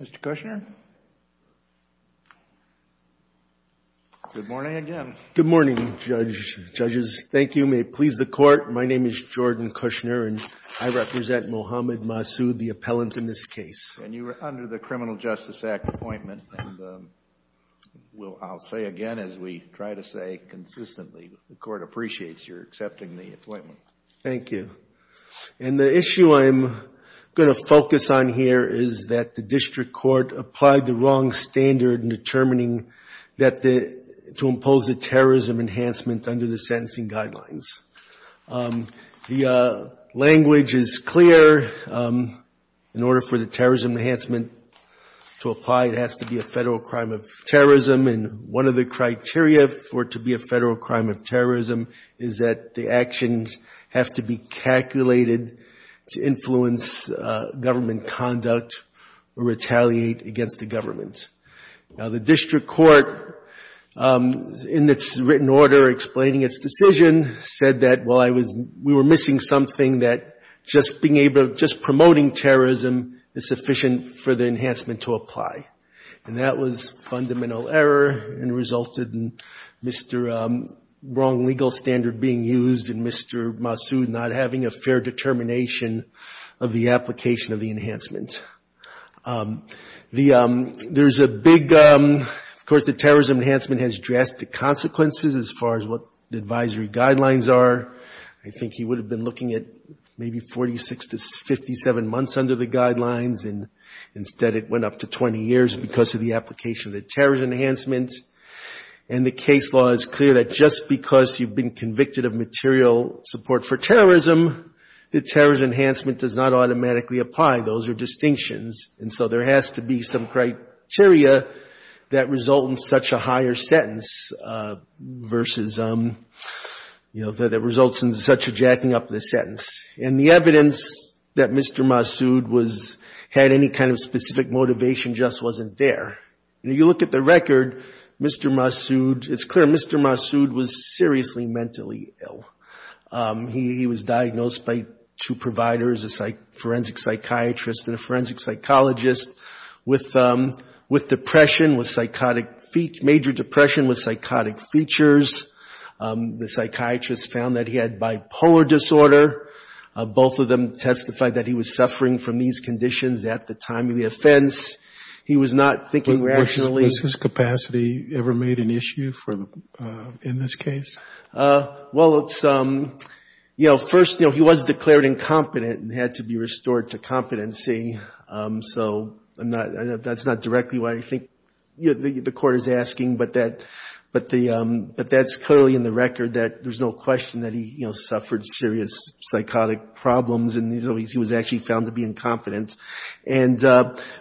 Mr. Kushner? Good morning again. Good morning, judges. Thank you. May it please the Court, my name is Jordan Kushner and I represent Muhammad Masood, the appellant in this case. And you are under the Criminal Justice Act appointment and I'll say again, as we try to say consistently, the Court appreciates your accepting the appointment. Thank you. And the issue I'm going to focus on here is that the District Court applied the wrong standard in determining that the, to impose a terrorism enhancement under the sentencing guidelines. The language is clear. In order for the terrorism enhancement to apply, it has to be a federal crime of terrorism. And one of the criteria for it to be a federal crime of terrorism is that the actions have to be calculated to influence government conduct or retaliate against the government. Now, the District Court, in its written order explaining its decision, said that, well, I was, we were missing something that just being able to, just promoting terrorism is sufficient for the enhancement to apply. And that was fundamental error and resulted in Mr. Wong's legal standard being used and Mr. Masood not having a fair determination of the application of the enhancement. The, there's a big, of course, the terrorism enhancement has drastic consequences as far as what the advisory guidelines are. I think he would have been looking at maybe 46 to 57 months under the guidelines and instead it went up to 20 years because of the application of the terrorist enhancement. And the case law is clear that just because you've been convicted of material support for terrorism, the terrorist enhancement does not automatically apply. Those are distinctions. And so there has to be some criteria that result in such a higher sentence versus, you know, that results in such a jacking up of the sentence. And the evidence that Mr. Masood was, had any kind of specific motivation just wasn't there. You know, you look at the record, Mr. Masood, it's clear Mr. Masood was seriously mentally ill. He was diagnosed by two providers, a forensic psychiatrist and a forensic psychologist with depression, with psychotic, major depression with psychotic features. The psychiatrist found that he had bipolar disorder. Both of them testified that he was suffering from these conditions at the time of the offense. He was not thinking rationally. Was his capacity ever made an issue for, in this case? Well, it's, you know, first, you know, he was declared incompetent and had to be restored to competency. So I'm not, that's not directly what I think the court is asking, but that's clearly in the record that there's no question that he, you know, suffered serious psychotic problems and he was actually found to be incompetent. And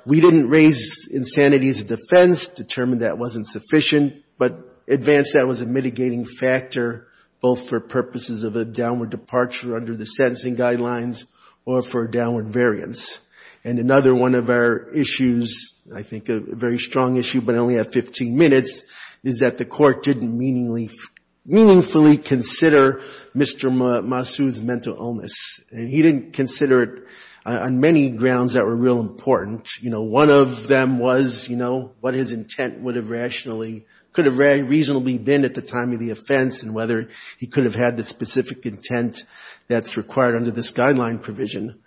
we didn't raise insanity as a defense, determined that wasn't sufficient, but advanced that was a mitigating factor both for purposes of a downward departure under the sentencing guidelines or for a downward variance. And another one of our issues, I think a very strong issue, but I only have 15 minutes, is that the court didn't meaningfully consider Mr. Masood's mental illness. He didn't consider it on many grounds that were real important. You know, one of them was, you know, what his intent would have rationally, could have reasonably been at the time of the offense and whether he could have had the specific intent that's required under this guideline provision.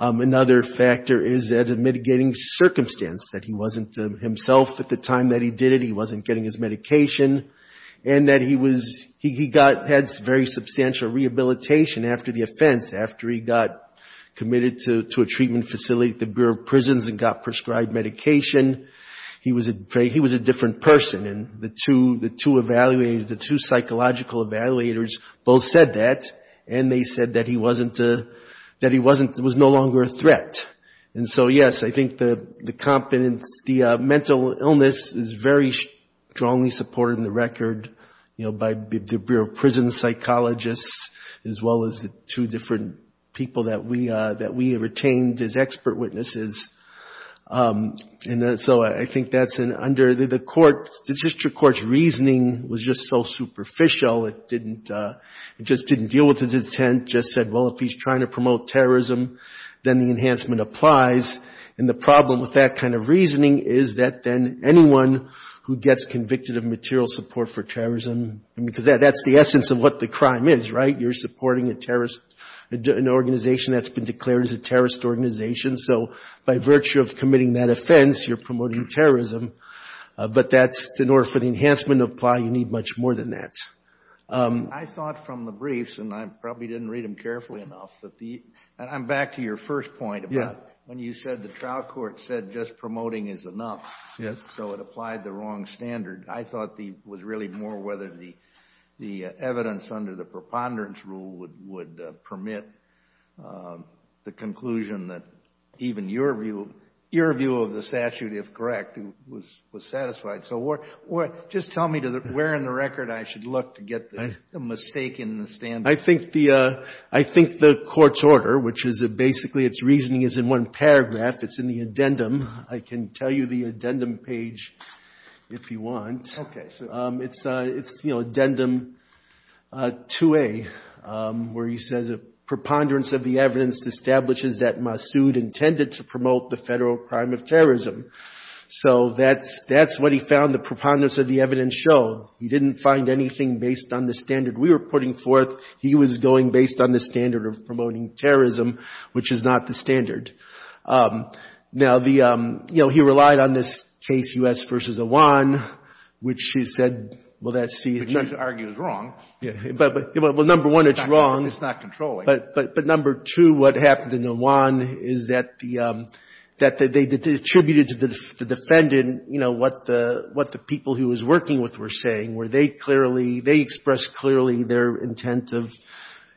Another factor is that mitigating circumstance, that he wasn't himself at the time that he did it, he wasn't getting his medication, and that he was, he got, had very substantial rehabilitation after the offense, after he got committed to a treatment facility at the Bureau of Prisons and got prescribed medication. He was a different person and the two evaluators, the two psychological evaluators both said that and they said that he wasn't, that he wasn't, was no longer a threat. And so, yes, I think the confidence, the mental illness is very strongly supported in the record, you know, by the Bureau of Prisons psychologists as well as the two different people that we, that we retained as expert The Supreme Court's reasoning was just so superficial. It didn't, it just didn't deal with his intent, just said, well, if he's trying to promote terrorism, then the enhancement applies. And the problem with that kind of reasoning is that then anyone who gets convicted of material support for terrorism, I mean, because that's the essence of what the crime is, right? You're supporting a terrorist, an organization that's been declared as a terrorist organization, so by virtue of committing that offense, you're promoting terrorism. But that's in order for the enhancement to apply, you need much more than that. I thought from the briefs, and I probably didn't read them carefully enough, that the, and I'm back to your first point about when you said the trial court said just promoting is enough, so it applied the wrong standard. I thought the, was really more whether the, the evidence under the preponderance rule would, would permit the conclusion that even your view, your view of the statute, if correct, was, was satisfied. So what, what, just tell me to the, where in the record I should look to get the mistake in the standard? I think the, I think the court's order, which is basically its reasoning is in one paragraph, it's in the addendum. I can tell you the addendum page if you want. Okay. It's, it's, you know, addendum 2A, where he says a preponderance of the evidence establishes that Massoud intended to promote the federal crime of terrorism. So that's, that's what he found the preponderance of the evidence showed. He didn't find anything based on the standard we were putting forth. He was going based on the standard of promoting terrorism, which is not the standard. Now, the, you know, he relied on this case U.S. v. Awan, which he said, well, that's, he had none of the Which he argues wrong. Yeah. But, but, well, number one, it's wrong. It's not controlling. But, but, but number two, what happened in Awan is that the, that they attributed to the defendant, you know, what the, what the people who he was working with were saying, were they clearly, they expressed clearly their intent of,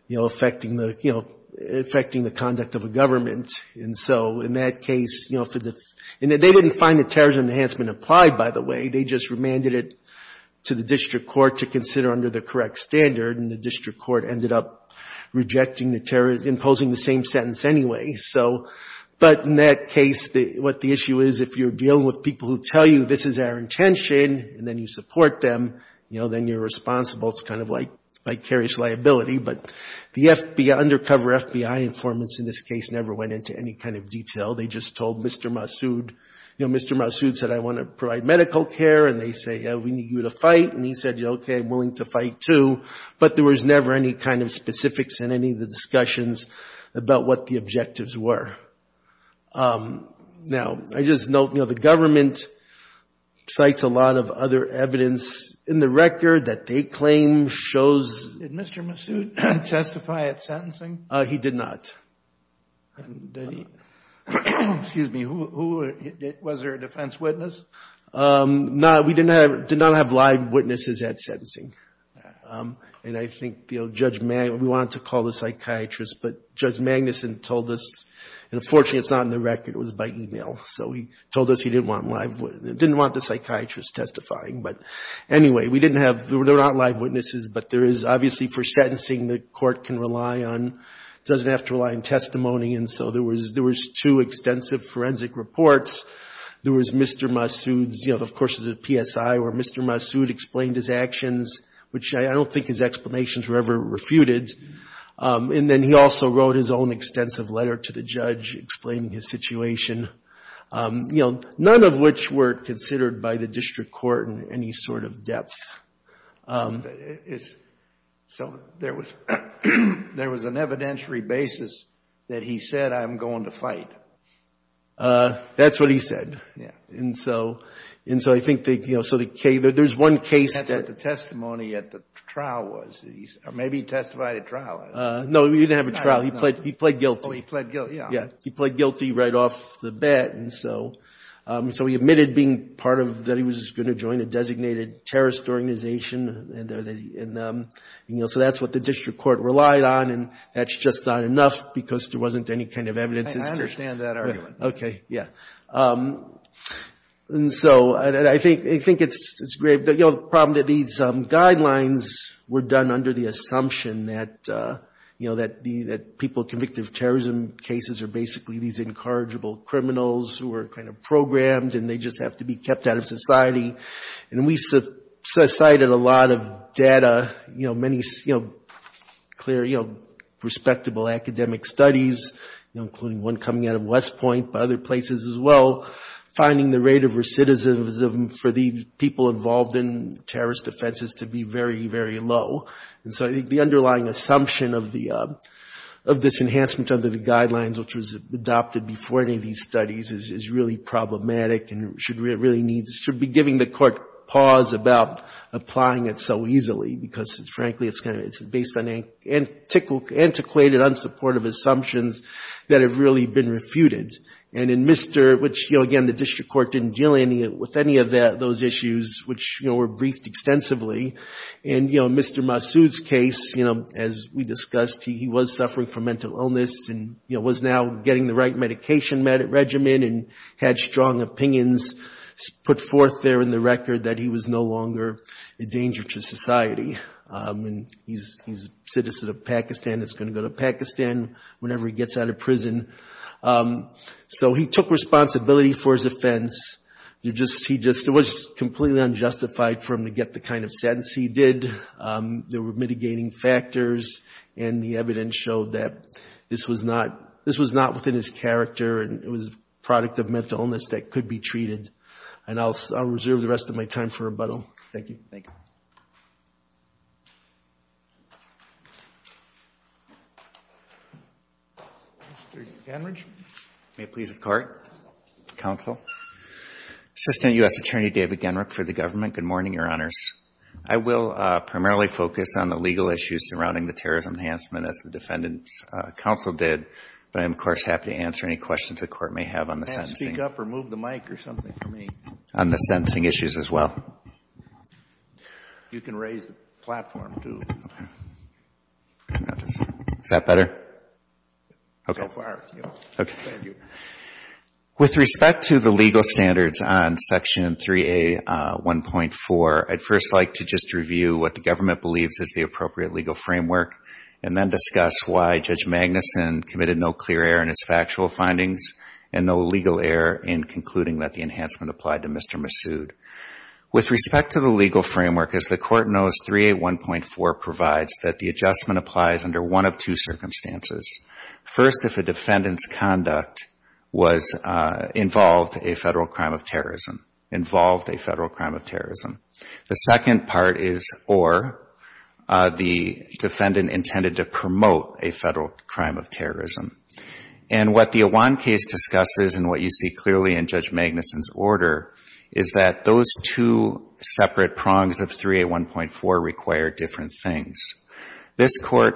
you know, affecting the, you know, affecting the conduct of a government. And so in that case, you know, for the, and they didn't find the terrorism enhancement applied, by the way. They just remanded it to the district court to consider under the correct standard, and the district court ended up rejecting the, imposing the same sentence anyway. So, but in that case, what the issue is, if you're dealing with people who tell you, this is our intention, and then you support them, you know, then you're responsible. It's kind of like vicarious liability. But the FBI, undercover FBI informants in this case never went into any kind of detail. They just told Mr. Massoud, you know, Mr. Massoud said, I want to provide medical care, and they say, yeah, we need you to fight. And he said, yeah, okay, I'm willing to fight too. But there was never any kind of specifics in any of the discussions about what the objectives were. Now, I just note, you know, the government cites a lot of other evidence in the record that they claim shows. Did Mr. Massoud testify at sentencing? He did not. Did he, excuse me, who, was there a defense witness? No, we did not have live witnesses at sentencing. And I think, you know, Judge, we wanted to call the psychiatrist, but Judge Magnuson told us, and unfortunately it's not in the record, it was by email, so he told us he didn't want live, didn't want the psychiatrist testifying. But anyway, we didn't have, there were not live witnesses, but there is obviously for sentencing the court can rely on, doesn't have to rely on testimony, and so there was two extensive forensic reports. There was Mr. Massoud's, you know, of course, the PSI, where Mr. Massoud explained his actions, which I don't think his explanations were ever refuted. And then he also wrote his own extensive letter to the judge explaining his situation, you know, none of which were considered by the district court in any sort of depth. So there was, there was an evidentiary basis that he said, I'm going to fight. That's what he said. And so, and so I think, you know, so there's one case that That's what the testimony at the trial was, or maybe he testified at trial. No, he didn't have a trial. He pled guilty. Oh, he pled guilty, yeah. Yeah, he pled guilty right off the bat, and so he admitted being part of, that he was going to join a designated terrorist organization. And, you know, so that's what the district court relied on, and that's just not enough because there wasn't any kind of evidence. I understand that argument. Okay, yeah. And so, and I think, I think it's grave, you know, the problem that these guidelines were done under the assumption that, you know, that the, that people convicted of terrorism cases are basically these incorrigible criminals who are kind of programmed, and they just have to be kept out of society. And we cited a lot of data, you know, many, you know, clear, you know, respectable academic studies, you know, including one coming out of West Point, but other places as well, finding the rate of recidivism for the people involved in terrorist offenses to be very, very low. And so I think the underlying assumption of the, of this enhancement under the guidelines which was adopted before any of these studies is really problematic and should really need, should be giving the court pause about applying it so easily because, frankly, it's kind of, it's based on antiquated, unsupportive assumptions that have really been refuted. And in Mr., which, you know, again, the district court didn't deal any, with any of those issues which, you know, were briefed extensively. And, you know, Mr. Massoud's case, you know, as we discussed, he was suffering from mental illness and, you know, was now getting the right medication regimen and had strong opinions put forth there in the record that he was no longer a danger to society. And he's a citizen of Pakistan, is going to go to Pakistan whenever he gets out of prison. So he took responsibility for his offense. You just, he just, it was completely unjustified for him to get the kind of sentence he did. There were mitigating factors and the evidence showed that this was not, this was not within his character and it was a product of mental illness that could be treated. And I'll reserve the rest of my time for rebuttal. Thank you. Thank you. Mr. Genrich. May it please the court, counsel. Assistant U.S. Attorney David Genrich for the government. Good morning, Your Honors. I will primarily focus on the legal issues surrounding the terrorism enhancement as the defendant's counsel did. But I'm, of course, happy to answer any questions the court may have on the sentencing. You can't speak up or move the mic or something for me. On the sentencing issues as well. You can raise the platform too. Is that better? So far. Okay. Thank you. With respect to the legal standards on Section 3A.1.4, I'd first like to just review what the government believes is the appropriate legal framework and then discuss why Judge Magnuson committed no clear error in his factual findings and no legal error in concluding that the enhancement applied to Mr. Massoud. With respect to the legal framework, as the court knows, 3A.1.4 provides that the adjustment applies under one of two circumstances. First, if a defendant's conduct involved a federal crime of terrorism. Involved a federal crime of terrorism. The second part is or the defendant intended to promote a federal crime of terrorism. And what the Awan case discusses and what you see clearly in Judge Magnuson's order is that those two separate prongs of 3A.1.4 require different things. This court,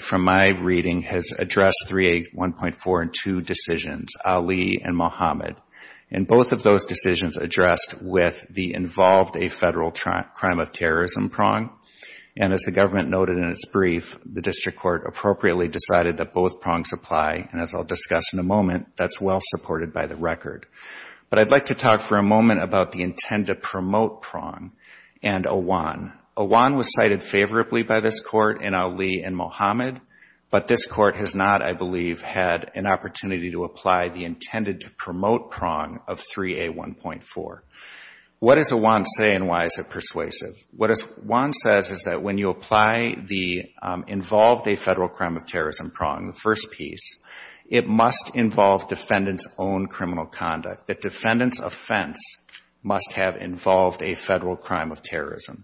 from my reading, has addressed 3A.1.4 in two decisions. Ali and Mohammed. And both of those decisions addressed with the involved a federal crime of terrorism prong. And as the government noted in its brief, the district court appropriately decided that both prongs apply. And as I'll discuss in a moment, that's well supported by the record. But I'd like to talk for a moment about the intend to promote prong and Awan. Awan was cited favorably by this court in Ali and Mohammed. But this court has not, I believe, had an opportunity to apply the intended to promote prong of 3A.1.4. What does Awan say and why is it persuasive? What Awan says is that when you apply the involved a federal crime of terrorism prong, the first piece, it must involve defendant's own criminal conduct. The defendant's offense must have involved a federal crime of terrorism.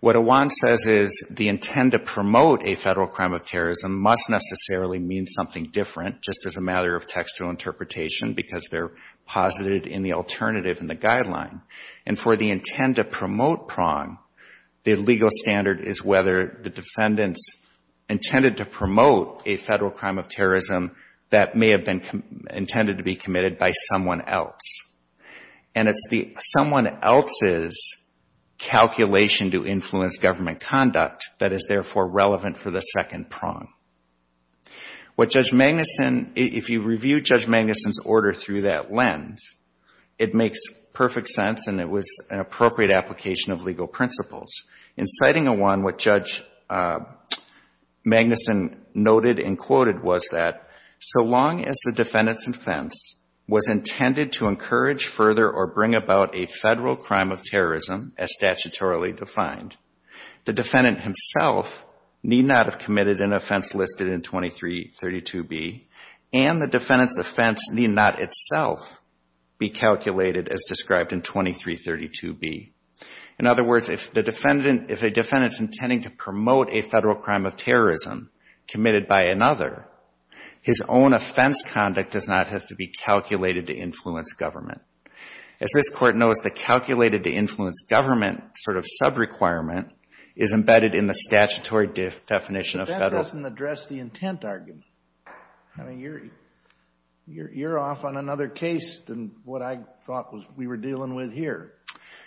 What Awan says is the intend to promote a federal crime of terrorism must necessarily mean something different, just as a matter of textual interpretation, because they're posited in the alternative in the guideline. And for the intend to promote prong, the legal standard is whether the defendant's intended to promote a federal crime of terrorism that may have been intended to be committed by someone else. And it's someone else's calculation to influence government conduct that is therefore relevant for the second prong. What Judge Magnuson, if you review Judge Magnuson's order through that lens, it makes perfect sense and it was an appropriate application of legal principles. In citing Awan, what Judge Magnuson noted and quoted was that so long as the defendant's offense was intended to encourage further or bring about a federal crime of terrorism as statutorily defined, the defendant himself need not have committed an offense listed in 2332B, and the defendant's offense need not itself be calculated as described in 2332B. In other words, if a defendant's intending to promote a federal crime of terrorism committed by another, his own offense conduct does not have to be calculated to influence government. As this Court knows, the calculated to influence government sort of sub-requirement is embedded in the statutory definition of federal. But that doesn't address the intent argument. I mean, you're off on another case than what I thought we were dealing with here.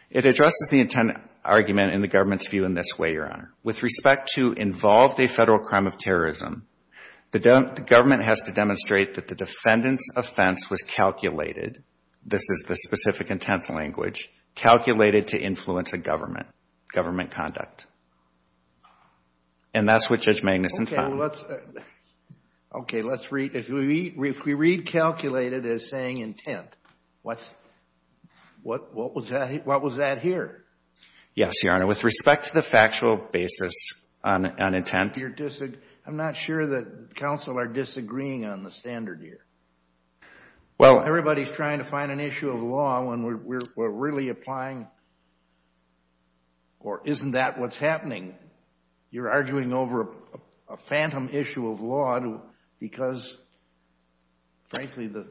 It addresses the intent argument in the government's view in this way, Your Honor. With respect to involved a federal crime of terrorism, the government has to demonstrate that the defendant's offense was calculated, this is the specific intent language, calculated to influence a government, government conduct. And that's what Judge Magnuson found. Okay, let's read. If we read calculated as saying intent, what was that here? Yes, Your Honor. With respect to the factual basis on intent. I'm not sure that counsel are disagreeing on the standard here. Well, everybody's trying to find an issue of law when we're really applying, or isn't that what's happening? You're arguing over a phantom issue of law because, frankly, the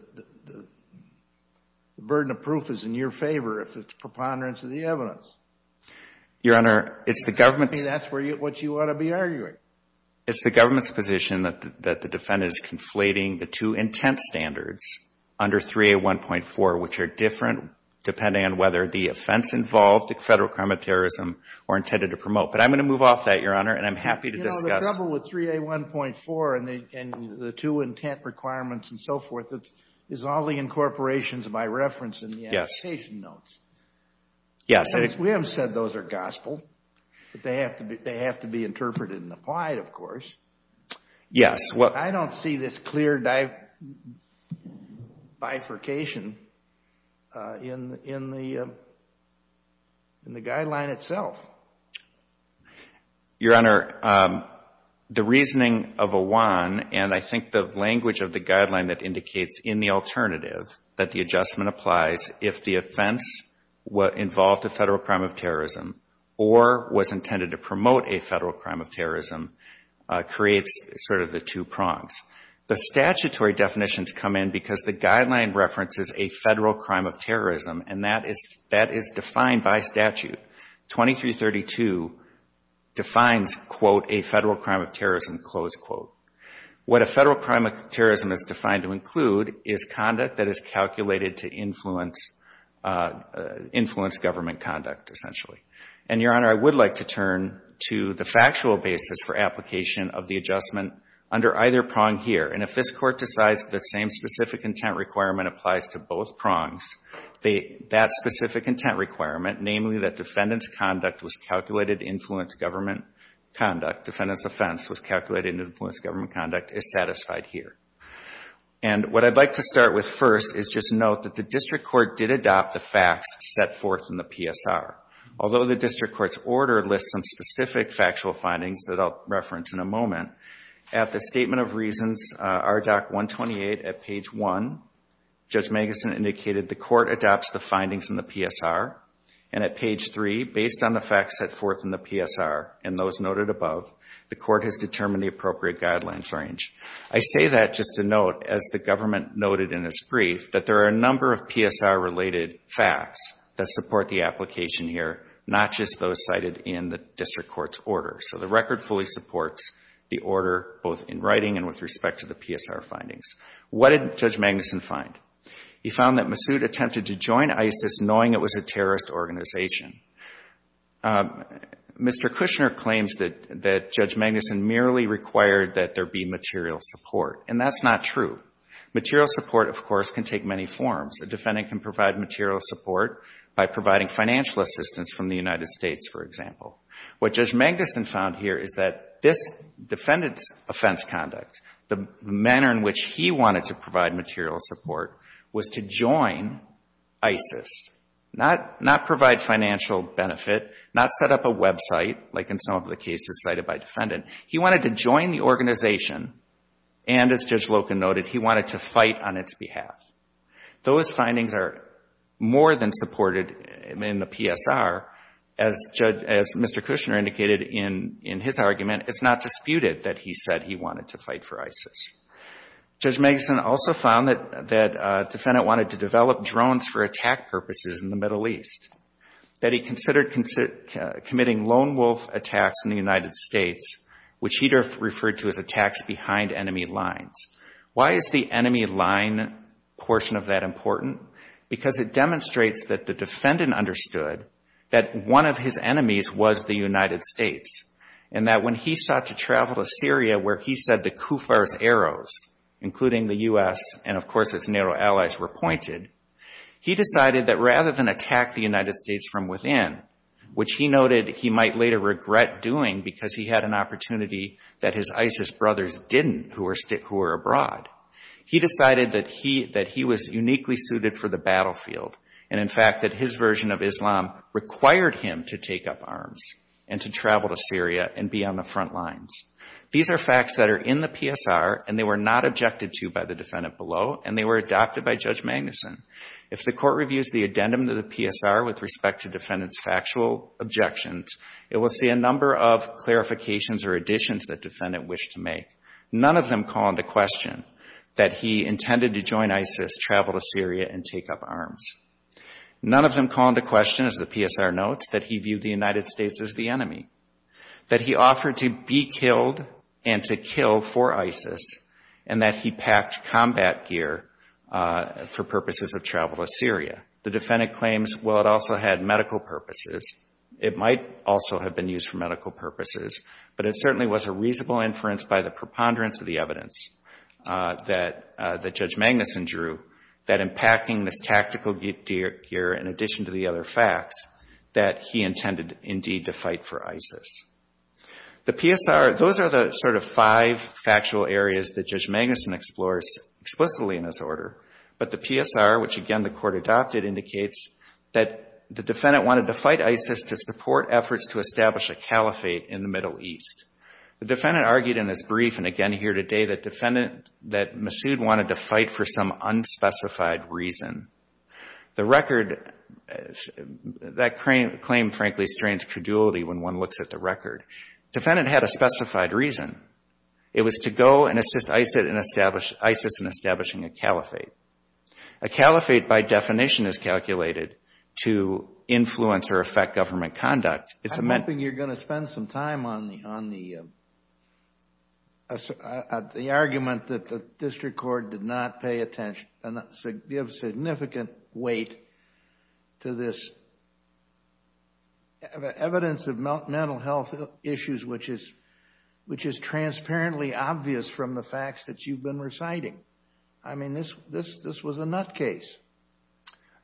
burden of proof is in your favor if it's preponderance of the evidence. Your Honor, it's the government's. That's what you ought to be arguing. It's the government's position that the defendant is conflating the two intent standards under 3A1.4, which are different depending on whether the offense involved in federal crime of terrorism were intended to promote. But I'm going to move off that, Your Honor, and I'm happy to discuss. The trouble with 3A1.4 and the two intent requirements and so forth is all the incorporations of my reference in the application notes. Yes. We haven't said those are gospel. They have to be interpreted and applied, of course. Yes. I don't see this clear bifurcation in the guideline itself. Your Honor, the reasoning of a one, and I think the language of the guideline that indicates in the alternative that the adjustment applies if the offense involved a federal crime of terrorism or was intended to promote a federal crime of terrorism, creates sort of the two prongs. The statutory definitions come in because the guideline references a federal crime of terrorism, and that is defined by statute. 2332 defines, quote, a federal crime of terrorism, close quote. What a federal crime of terrorism is defined to include is conduct that is calculated to influence government conduct, essentially. And, Your Honor, I would like to turn to the factual basis for application of the adjustment under either prong here. And if this Court decides the same specific intent requirement applies to both prongs, that specific intent requirement, namely that defendant's conduct was calculated to influence government conduct, defendant's offense was calculated to influence government conduct, is satisfied here. And what I'd like to start with first is just note that the District Court did adopt the facts set forth in the PSR. Although the District Court's order lists some specific factual findings that I'll reference in a moment, at the Statement of Reasons, RDoC 128, at page 1, Judge Magnuson indicated the Court adopts the findings in the PSR. And at page 3, based on the facts set forth in the PSR and those noted above, the Court has determined the appropriate guidelines range. I say that just to note, as the government noted in its brief, that there are a number of PSR-related facts that support the application here, not just those cited in the District Court's order. So the record fully supports the order, both in writing and with respect to the PSR findings. What did Judge Magnuson find? He found that Massoud attempted to join ISIS knowing it was a terrorist organization. Mr. Kushner claims that Judge Magnuson merely required that there be material support, and that's not true. Material support, of course, can take many forms. A defendant can provide material support by providing financial assistance from the United States, for example. What Judge Magnuson found here is that this defendant's offense conduct, the manner in which he wanted to provide material support, was to join ISIS, not provide financial benefit, not set up a website, like in some of the cases cited by defendant. He wanted to join the organization, and as Judge Loken noted, he wanted to fight on its behalf. Those findings are more than supported in the PSR. As Mr. Kushner indicated in his argument, it's not disputed that he said he wanted to fight for ISIS. Judge Magnuson also found that the defendant wanted to develop drones for attack purposes in the Middle East, that he considered committing lone wolf attacks in the United States, which he referred to as attacks behind enemy lines. Why is the enemy line portion of that important? Because it demonstrates that the defendant understood that one of his enemies was the United States, and that when he sought to travel to Syria, where he said the Kufar's arrows, including the U.S. and, of course, its NATO allies, were pointed, he decided that rather than attack the United States from within, which he noted he might later regret doing because he had an opportunity that his ISIS brothers didn't, who were abroad, he decided that he was uniquely suited for the battlefield, and, in fact, that his version of Islam required him to take up arms and to travel to Syria and be on the front lines. These are facts that are in the PSR, and they were not objected to by the defendant below, and they were adopted by Judge Magnuson. If the Court reviews the addendum to the PSR with respect to defendant's actual objections, it will see a number of clarifications or additions that defendant wished to make. None of them call into question that he intended to join ISIS, travel to Syria, and take up arms. None of them call into question, as the PSR notes, that he viewed the United States as the enemy, that he offered to be killed and to kill for ISIS, and that he packed combat gear for purposes of travel to Syria. The defendant claims, well, it also had medical purposes. It might also have been used for medical purposes, but it certainly was a reasonable inference by the preponderance of the evidence that Judge Magnuson drew that in packing this tactical gear, in addition to the other facts, that he intended, indeed, to fight for ISIS. The PSR, those are the sort of five factual areas that Judge Magnuson explores explicitly in this order, but the PSR, which, again, the Court adopted, indicates that the defendant wanted to fight ISIS to support efforts to establish a caliphate in the Middle East. The defendant argued in his brief, and again here today, that Masoud wanted to fight for some unspecified reason. The record, that claim, frankly, strains credulity when one looks at the record. Defendant had a specified reason. It was to go and assist ISIS in establishing a caliphate. A caliphate, by definition, is calculated to influence or affect government conduct. I'm hoping you're going to spend some time on the argument that the District Court did not pay attention, give significant weight to this evidence of mental health issues, which is transparently obvious from the facts that you've been reciting. I mean, this was a nut case.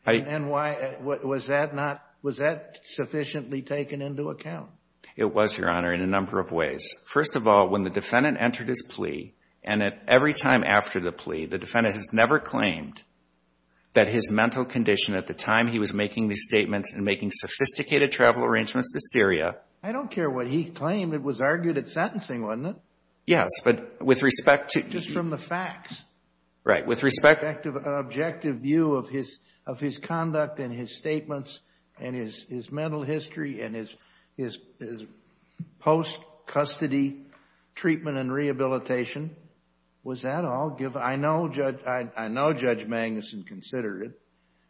And was that sufficiently taken into account? It was, Your Honor, in a number of ways. First of all, when the defendant entered his plea, and every time after the plea, the defendant has never claimed that his mental condition at the time he was making these statements and making sophisticated travel arrangements to Syria. I don't care what he claimed. It was argued at sentencing, wasn't it? Yes. But with respect to Just from the facts. Right. With respect Objective view of his conduct and his statements and his mental history and his post-custody treatment and rehabilitation. Was that all? I know Judge Magnuson considered it.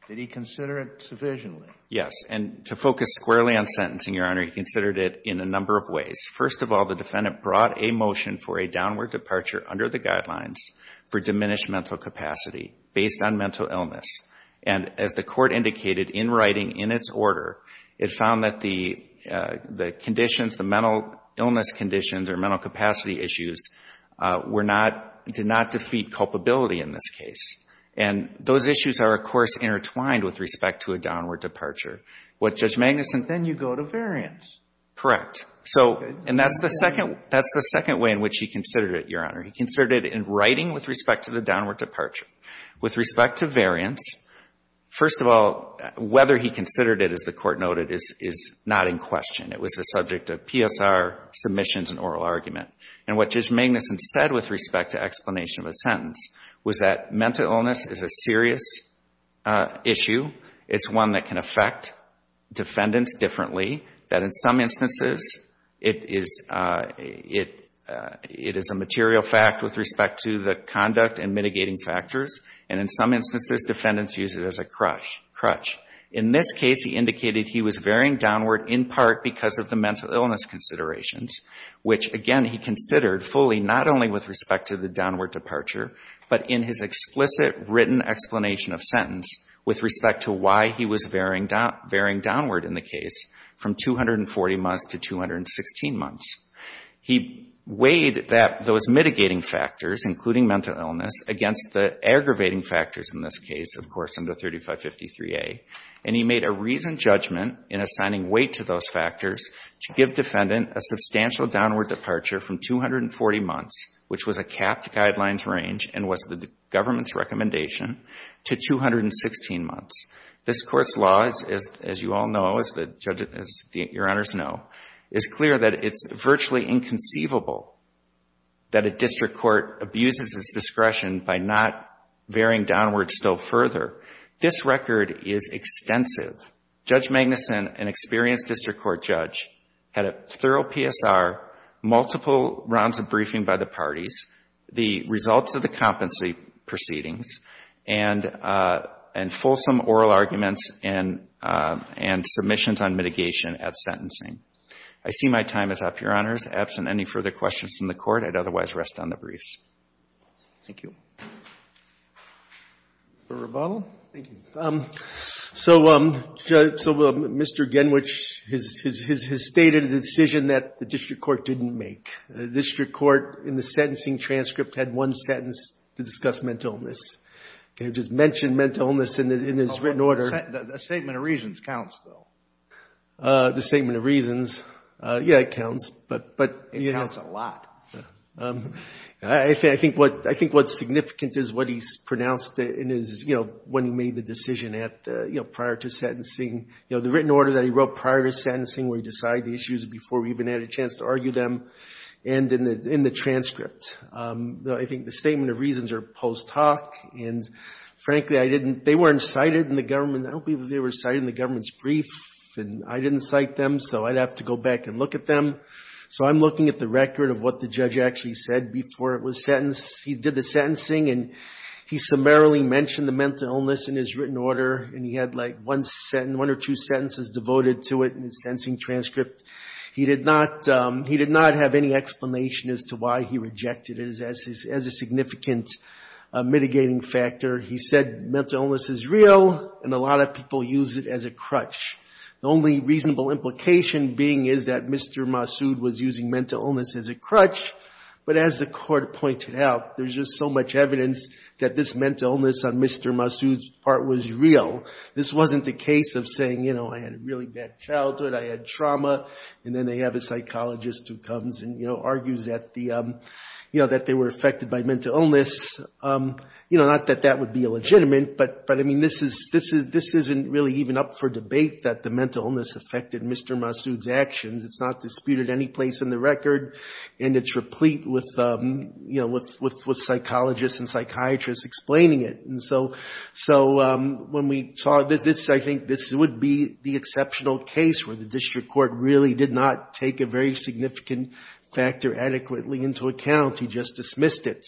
Did he consider it sufficiently? Yes. And to focus squarely on sentencing, Your Honor, he considered it in a number of ways. First of all, the defendant brought a motion for a downward departure under the guidelines for diminished mental capacity based on mental illness. And as the court indicated in writing in its order, it found that the conditions, the mental illness conditions or mental capacity issues did not defeat culpability in this case. And those issues are, of course, intertwined with respect to a downward departure. What Judge Magnuson Then you go to variance. So, and that's the second way in which he considered it, Your Honor. He considered it in writing with respect to the downward departure. With respect to variance, first of all, whether he considered it, as the court noted, is not in question. It was a subject of PSR submissions and oral argument. And what Judge Magnuson said with respect to explanation of a sentence was that mental illness is a serious issue. It's one that can affect defendants differently. That in some instances, it is a material fact with respect to the conduct and mitigating factors. And in some instances, defendants use it as a crutch. In this case, he indicated he was varying downward in part because of the mental illness considerations, which, again, he considered fully not only with respect to the downward departure, but in his explicit written explanation of sentence with respect to why he was varying downward in the case from 240 months to 216 months. He weighed those mitigating factors, including mental illness, against the aggravating factors in this case, of course, under 3553A. And he made a reasoned judgment in assigning weight to those factors to give defendant a substantial downward departure from 240 months, which was a capped guidelines range and was the government's recommendation, to 216 months. This Court's law, as you all know, as your honors know, is clear that it's virtually inconceivable that a district court abuses its discretion by not varying downward still further. This record is extensive. Judge Magnuson, an experienced district court judge, had a thorough PSR, multiple rounds of briefing by the parties, the results of the competency proceedings, and fulsome oral arguments and submissions on mitigation at sentencing. I see my time is up, your honors. Absent any further questions from the Court, I'd otherwise rest on the briefs. Thank you. Thank you. So, Mr. Genwich has stated a decision that the district court didn't make. The district court, in the sentencing transcript, had one sentence to discuss mental illness. It just mentioned mental illness in its written order. The statement of reasons counts, though. The statement of reasons, yeah, it counts. It counts a lot. I think what's significant is what he's pronounced in his, you know, when he made the decision at the, you know, prior to sentencing. You know, the written order that he wrote prior to sentencing, where he decided the issues before we even had a chance to argue them, and in the transcript. I think the statement of reasons are post hoc, and frankly, I didn't, they weren't cited in the government, I don't believe they were cited in the government's brief, and I didn't cite them, so I'd have to go back and look at them. So I'm looking at the record of what the judge actually said before it was sentenced. He did the sentencing, and he summarily mentioned the mental illness in his written order, and he had like one sentence, one or two sentences devoted to it in his sentencing transcript. He did not have any explanation as to why he rejected it as a significant mitigating factor. He said mental illness is real, and a lot of people use it as a crutch. The only reasonable implication being is that Mr. Massoud was using mental illness as a crutch, but as the court pointed out, there's just so much evidence that this mental illness on Mr. Massoud's part was real. This wasn't the case of saying, you know, I had a really bad childhood, I had trauma, and then they have a psychologist who comes and, you know, argues that the, you know, that they were affected by mental illness. You know, not that that would be illegitimate, but, I mean, this isn't really even up for debate, that the mental illness affected Mr. Massoud's actions. It's not disputed any place in the record, and it's replete with, you know, with psychologists and psychiatrists explaining it. And so when we saw this, I think this would be the exceptional case where the district court really did not take a very significant factor adequately into account. He just dismissed it.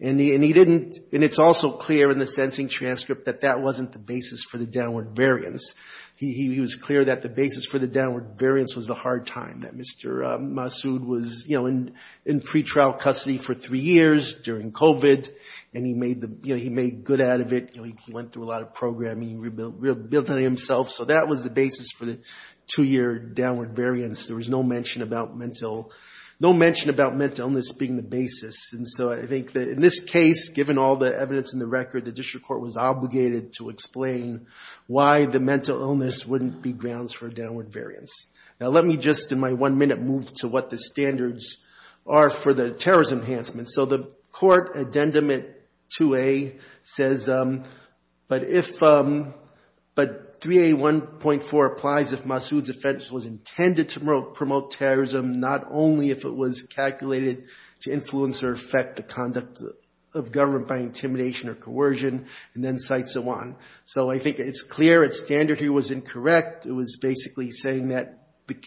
And he didn't, and it's also clear in the sentencing transcript that that wasn't the basis for the downward variance. He was clear that the basis for the downward variance was the hard time, that Mr. Massoud was, you know, in pretrial custody for three years during COVID, and he made good out of it. You know, he went through a lot of programming, rebuilt himself, so that was the basis for the two-year downward variance. There was no mention about mental illness being the basis. And so I think that in this case, given all the evidence in the record, the district court was obligated to explain why the mental illness wouldn't be grounds for downward variance. Now let me just in my one minute move to what the standards are for the terrorism enhancement. So the court addendum at 2A says, but 3A1.4 applies if Massoud's offense was intended to promote terrorism, not only if it was calculated to influence or affect the conduct of government by intimidation or coercion, and then cite so on. And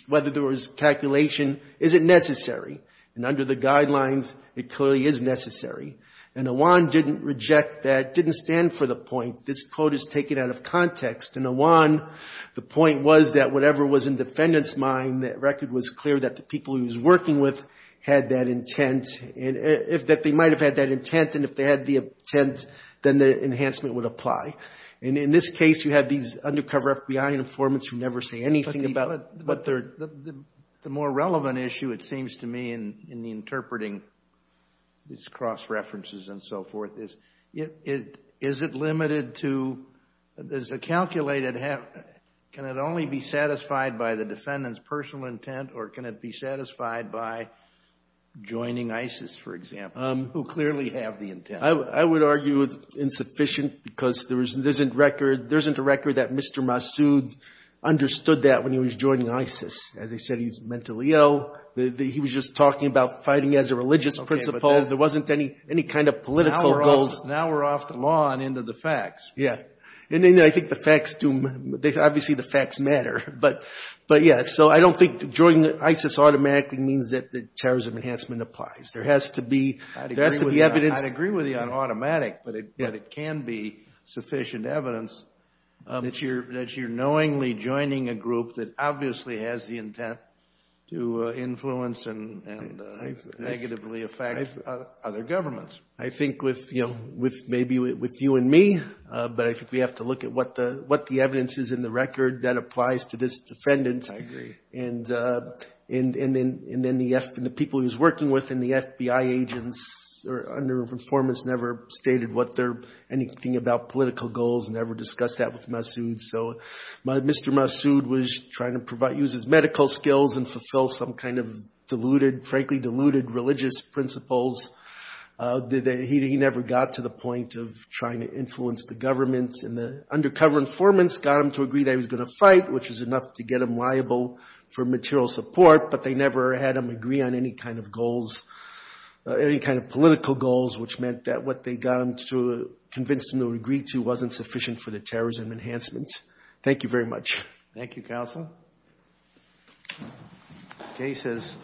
whether there was calculation, is it necessary? And under the guidelines, it clearly is necessary. And Awan didn't reject that, didn't stand for the point. This quote is taken out of context, and Awan, the point was that whatever was in the defendant's mind, that record was clear that the people he was working with had that intent, that they might have had that intent, and if they had the intent, then the enhancement would apply. And in this case, you have these undercover FBI informants who never say anything about it. The more relevant issue, it seems to me, in the interpreting, these cross-references and so forth, is it limited to, is it calculated, can it only be satisfied by the defendant's personal intent, or can it be satisfied by joining ISIS, for example, who clearly have the intent? I would argue it's insufficient, because there isn't a record that Mr. Massoud understood that when he was joining ISIS. As I said, he's mentally ill, he was just talking about fighting as a religious principle, there wasn't any kind of political goals. Now we're off the law and into the facts. Yeah, and I think the facts do, obviously the facts matter, but yeah, so I don't think joining ISIS automatically means that the terrorism enhancement applies. There has to be evidence. I'd agree with you on automatic, but it can be sufficient evidence that you're knowingly joining a group that obviously has the intent to influence and negatively affect other governments. I think with, you know, maybe with you and me, but I think we have to look at what the evidence is in the record that applies to this defendant. I agree. And then the people he was working with in the FBI agents or under informants never stated anything about political goals, never discussed that with Massoud. So Mr. Massoud was trying to use his medical skills and fulfill some kind of deluded, frankly deluded religious principles. He never got to the point of trying to influence the government, and the undercover informants got him to agree that he was going to fight, which was enough to get him liable for material support, but they never had him agree on any kind of goals, any kind of political goals, which meant that what they got him to convince him to agree to wasn't sufficient for the terrorism enhancement. Thank you very much. Thank you, Counsel. Jay says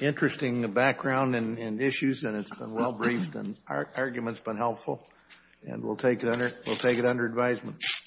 interesting background and issues, and it's been well briefed, and the argument's been helpful, and we'll take it under advisement.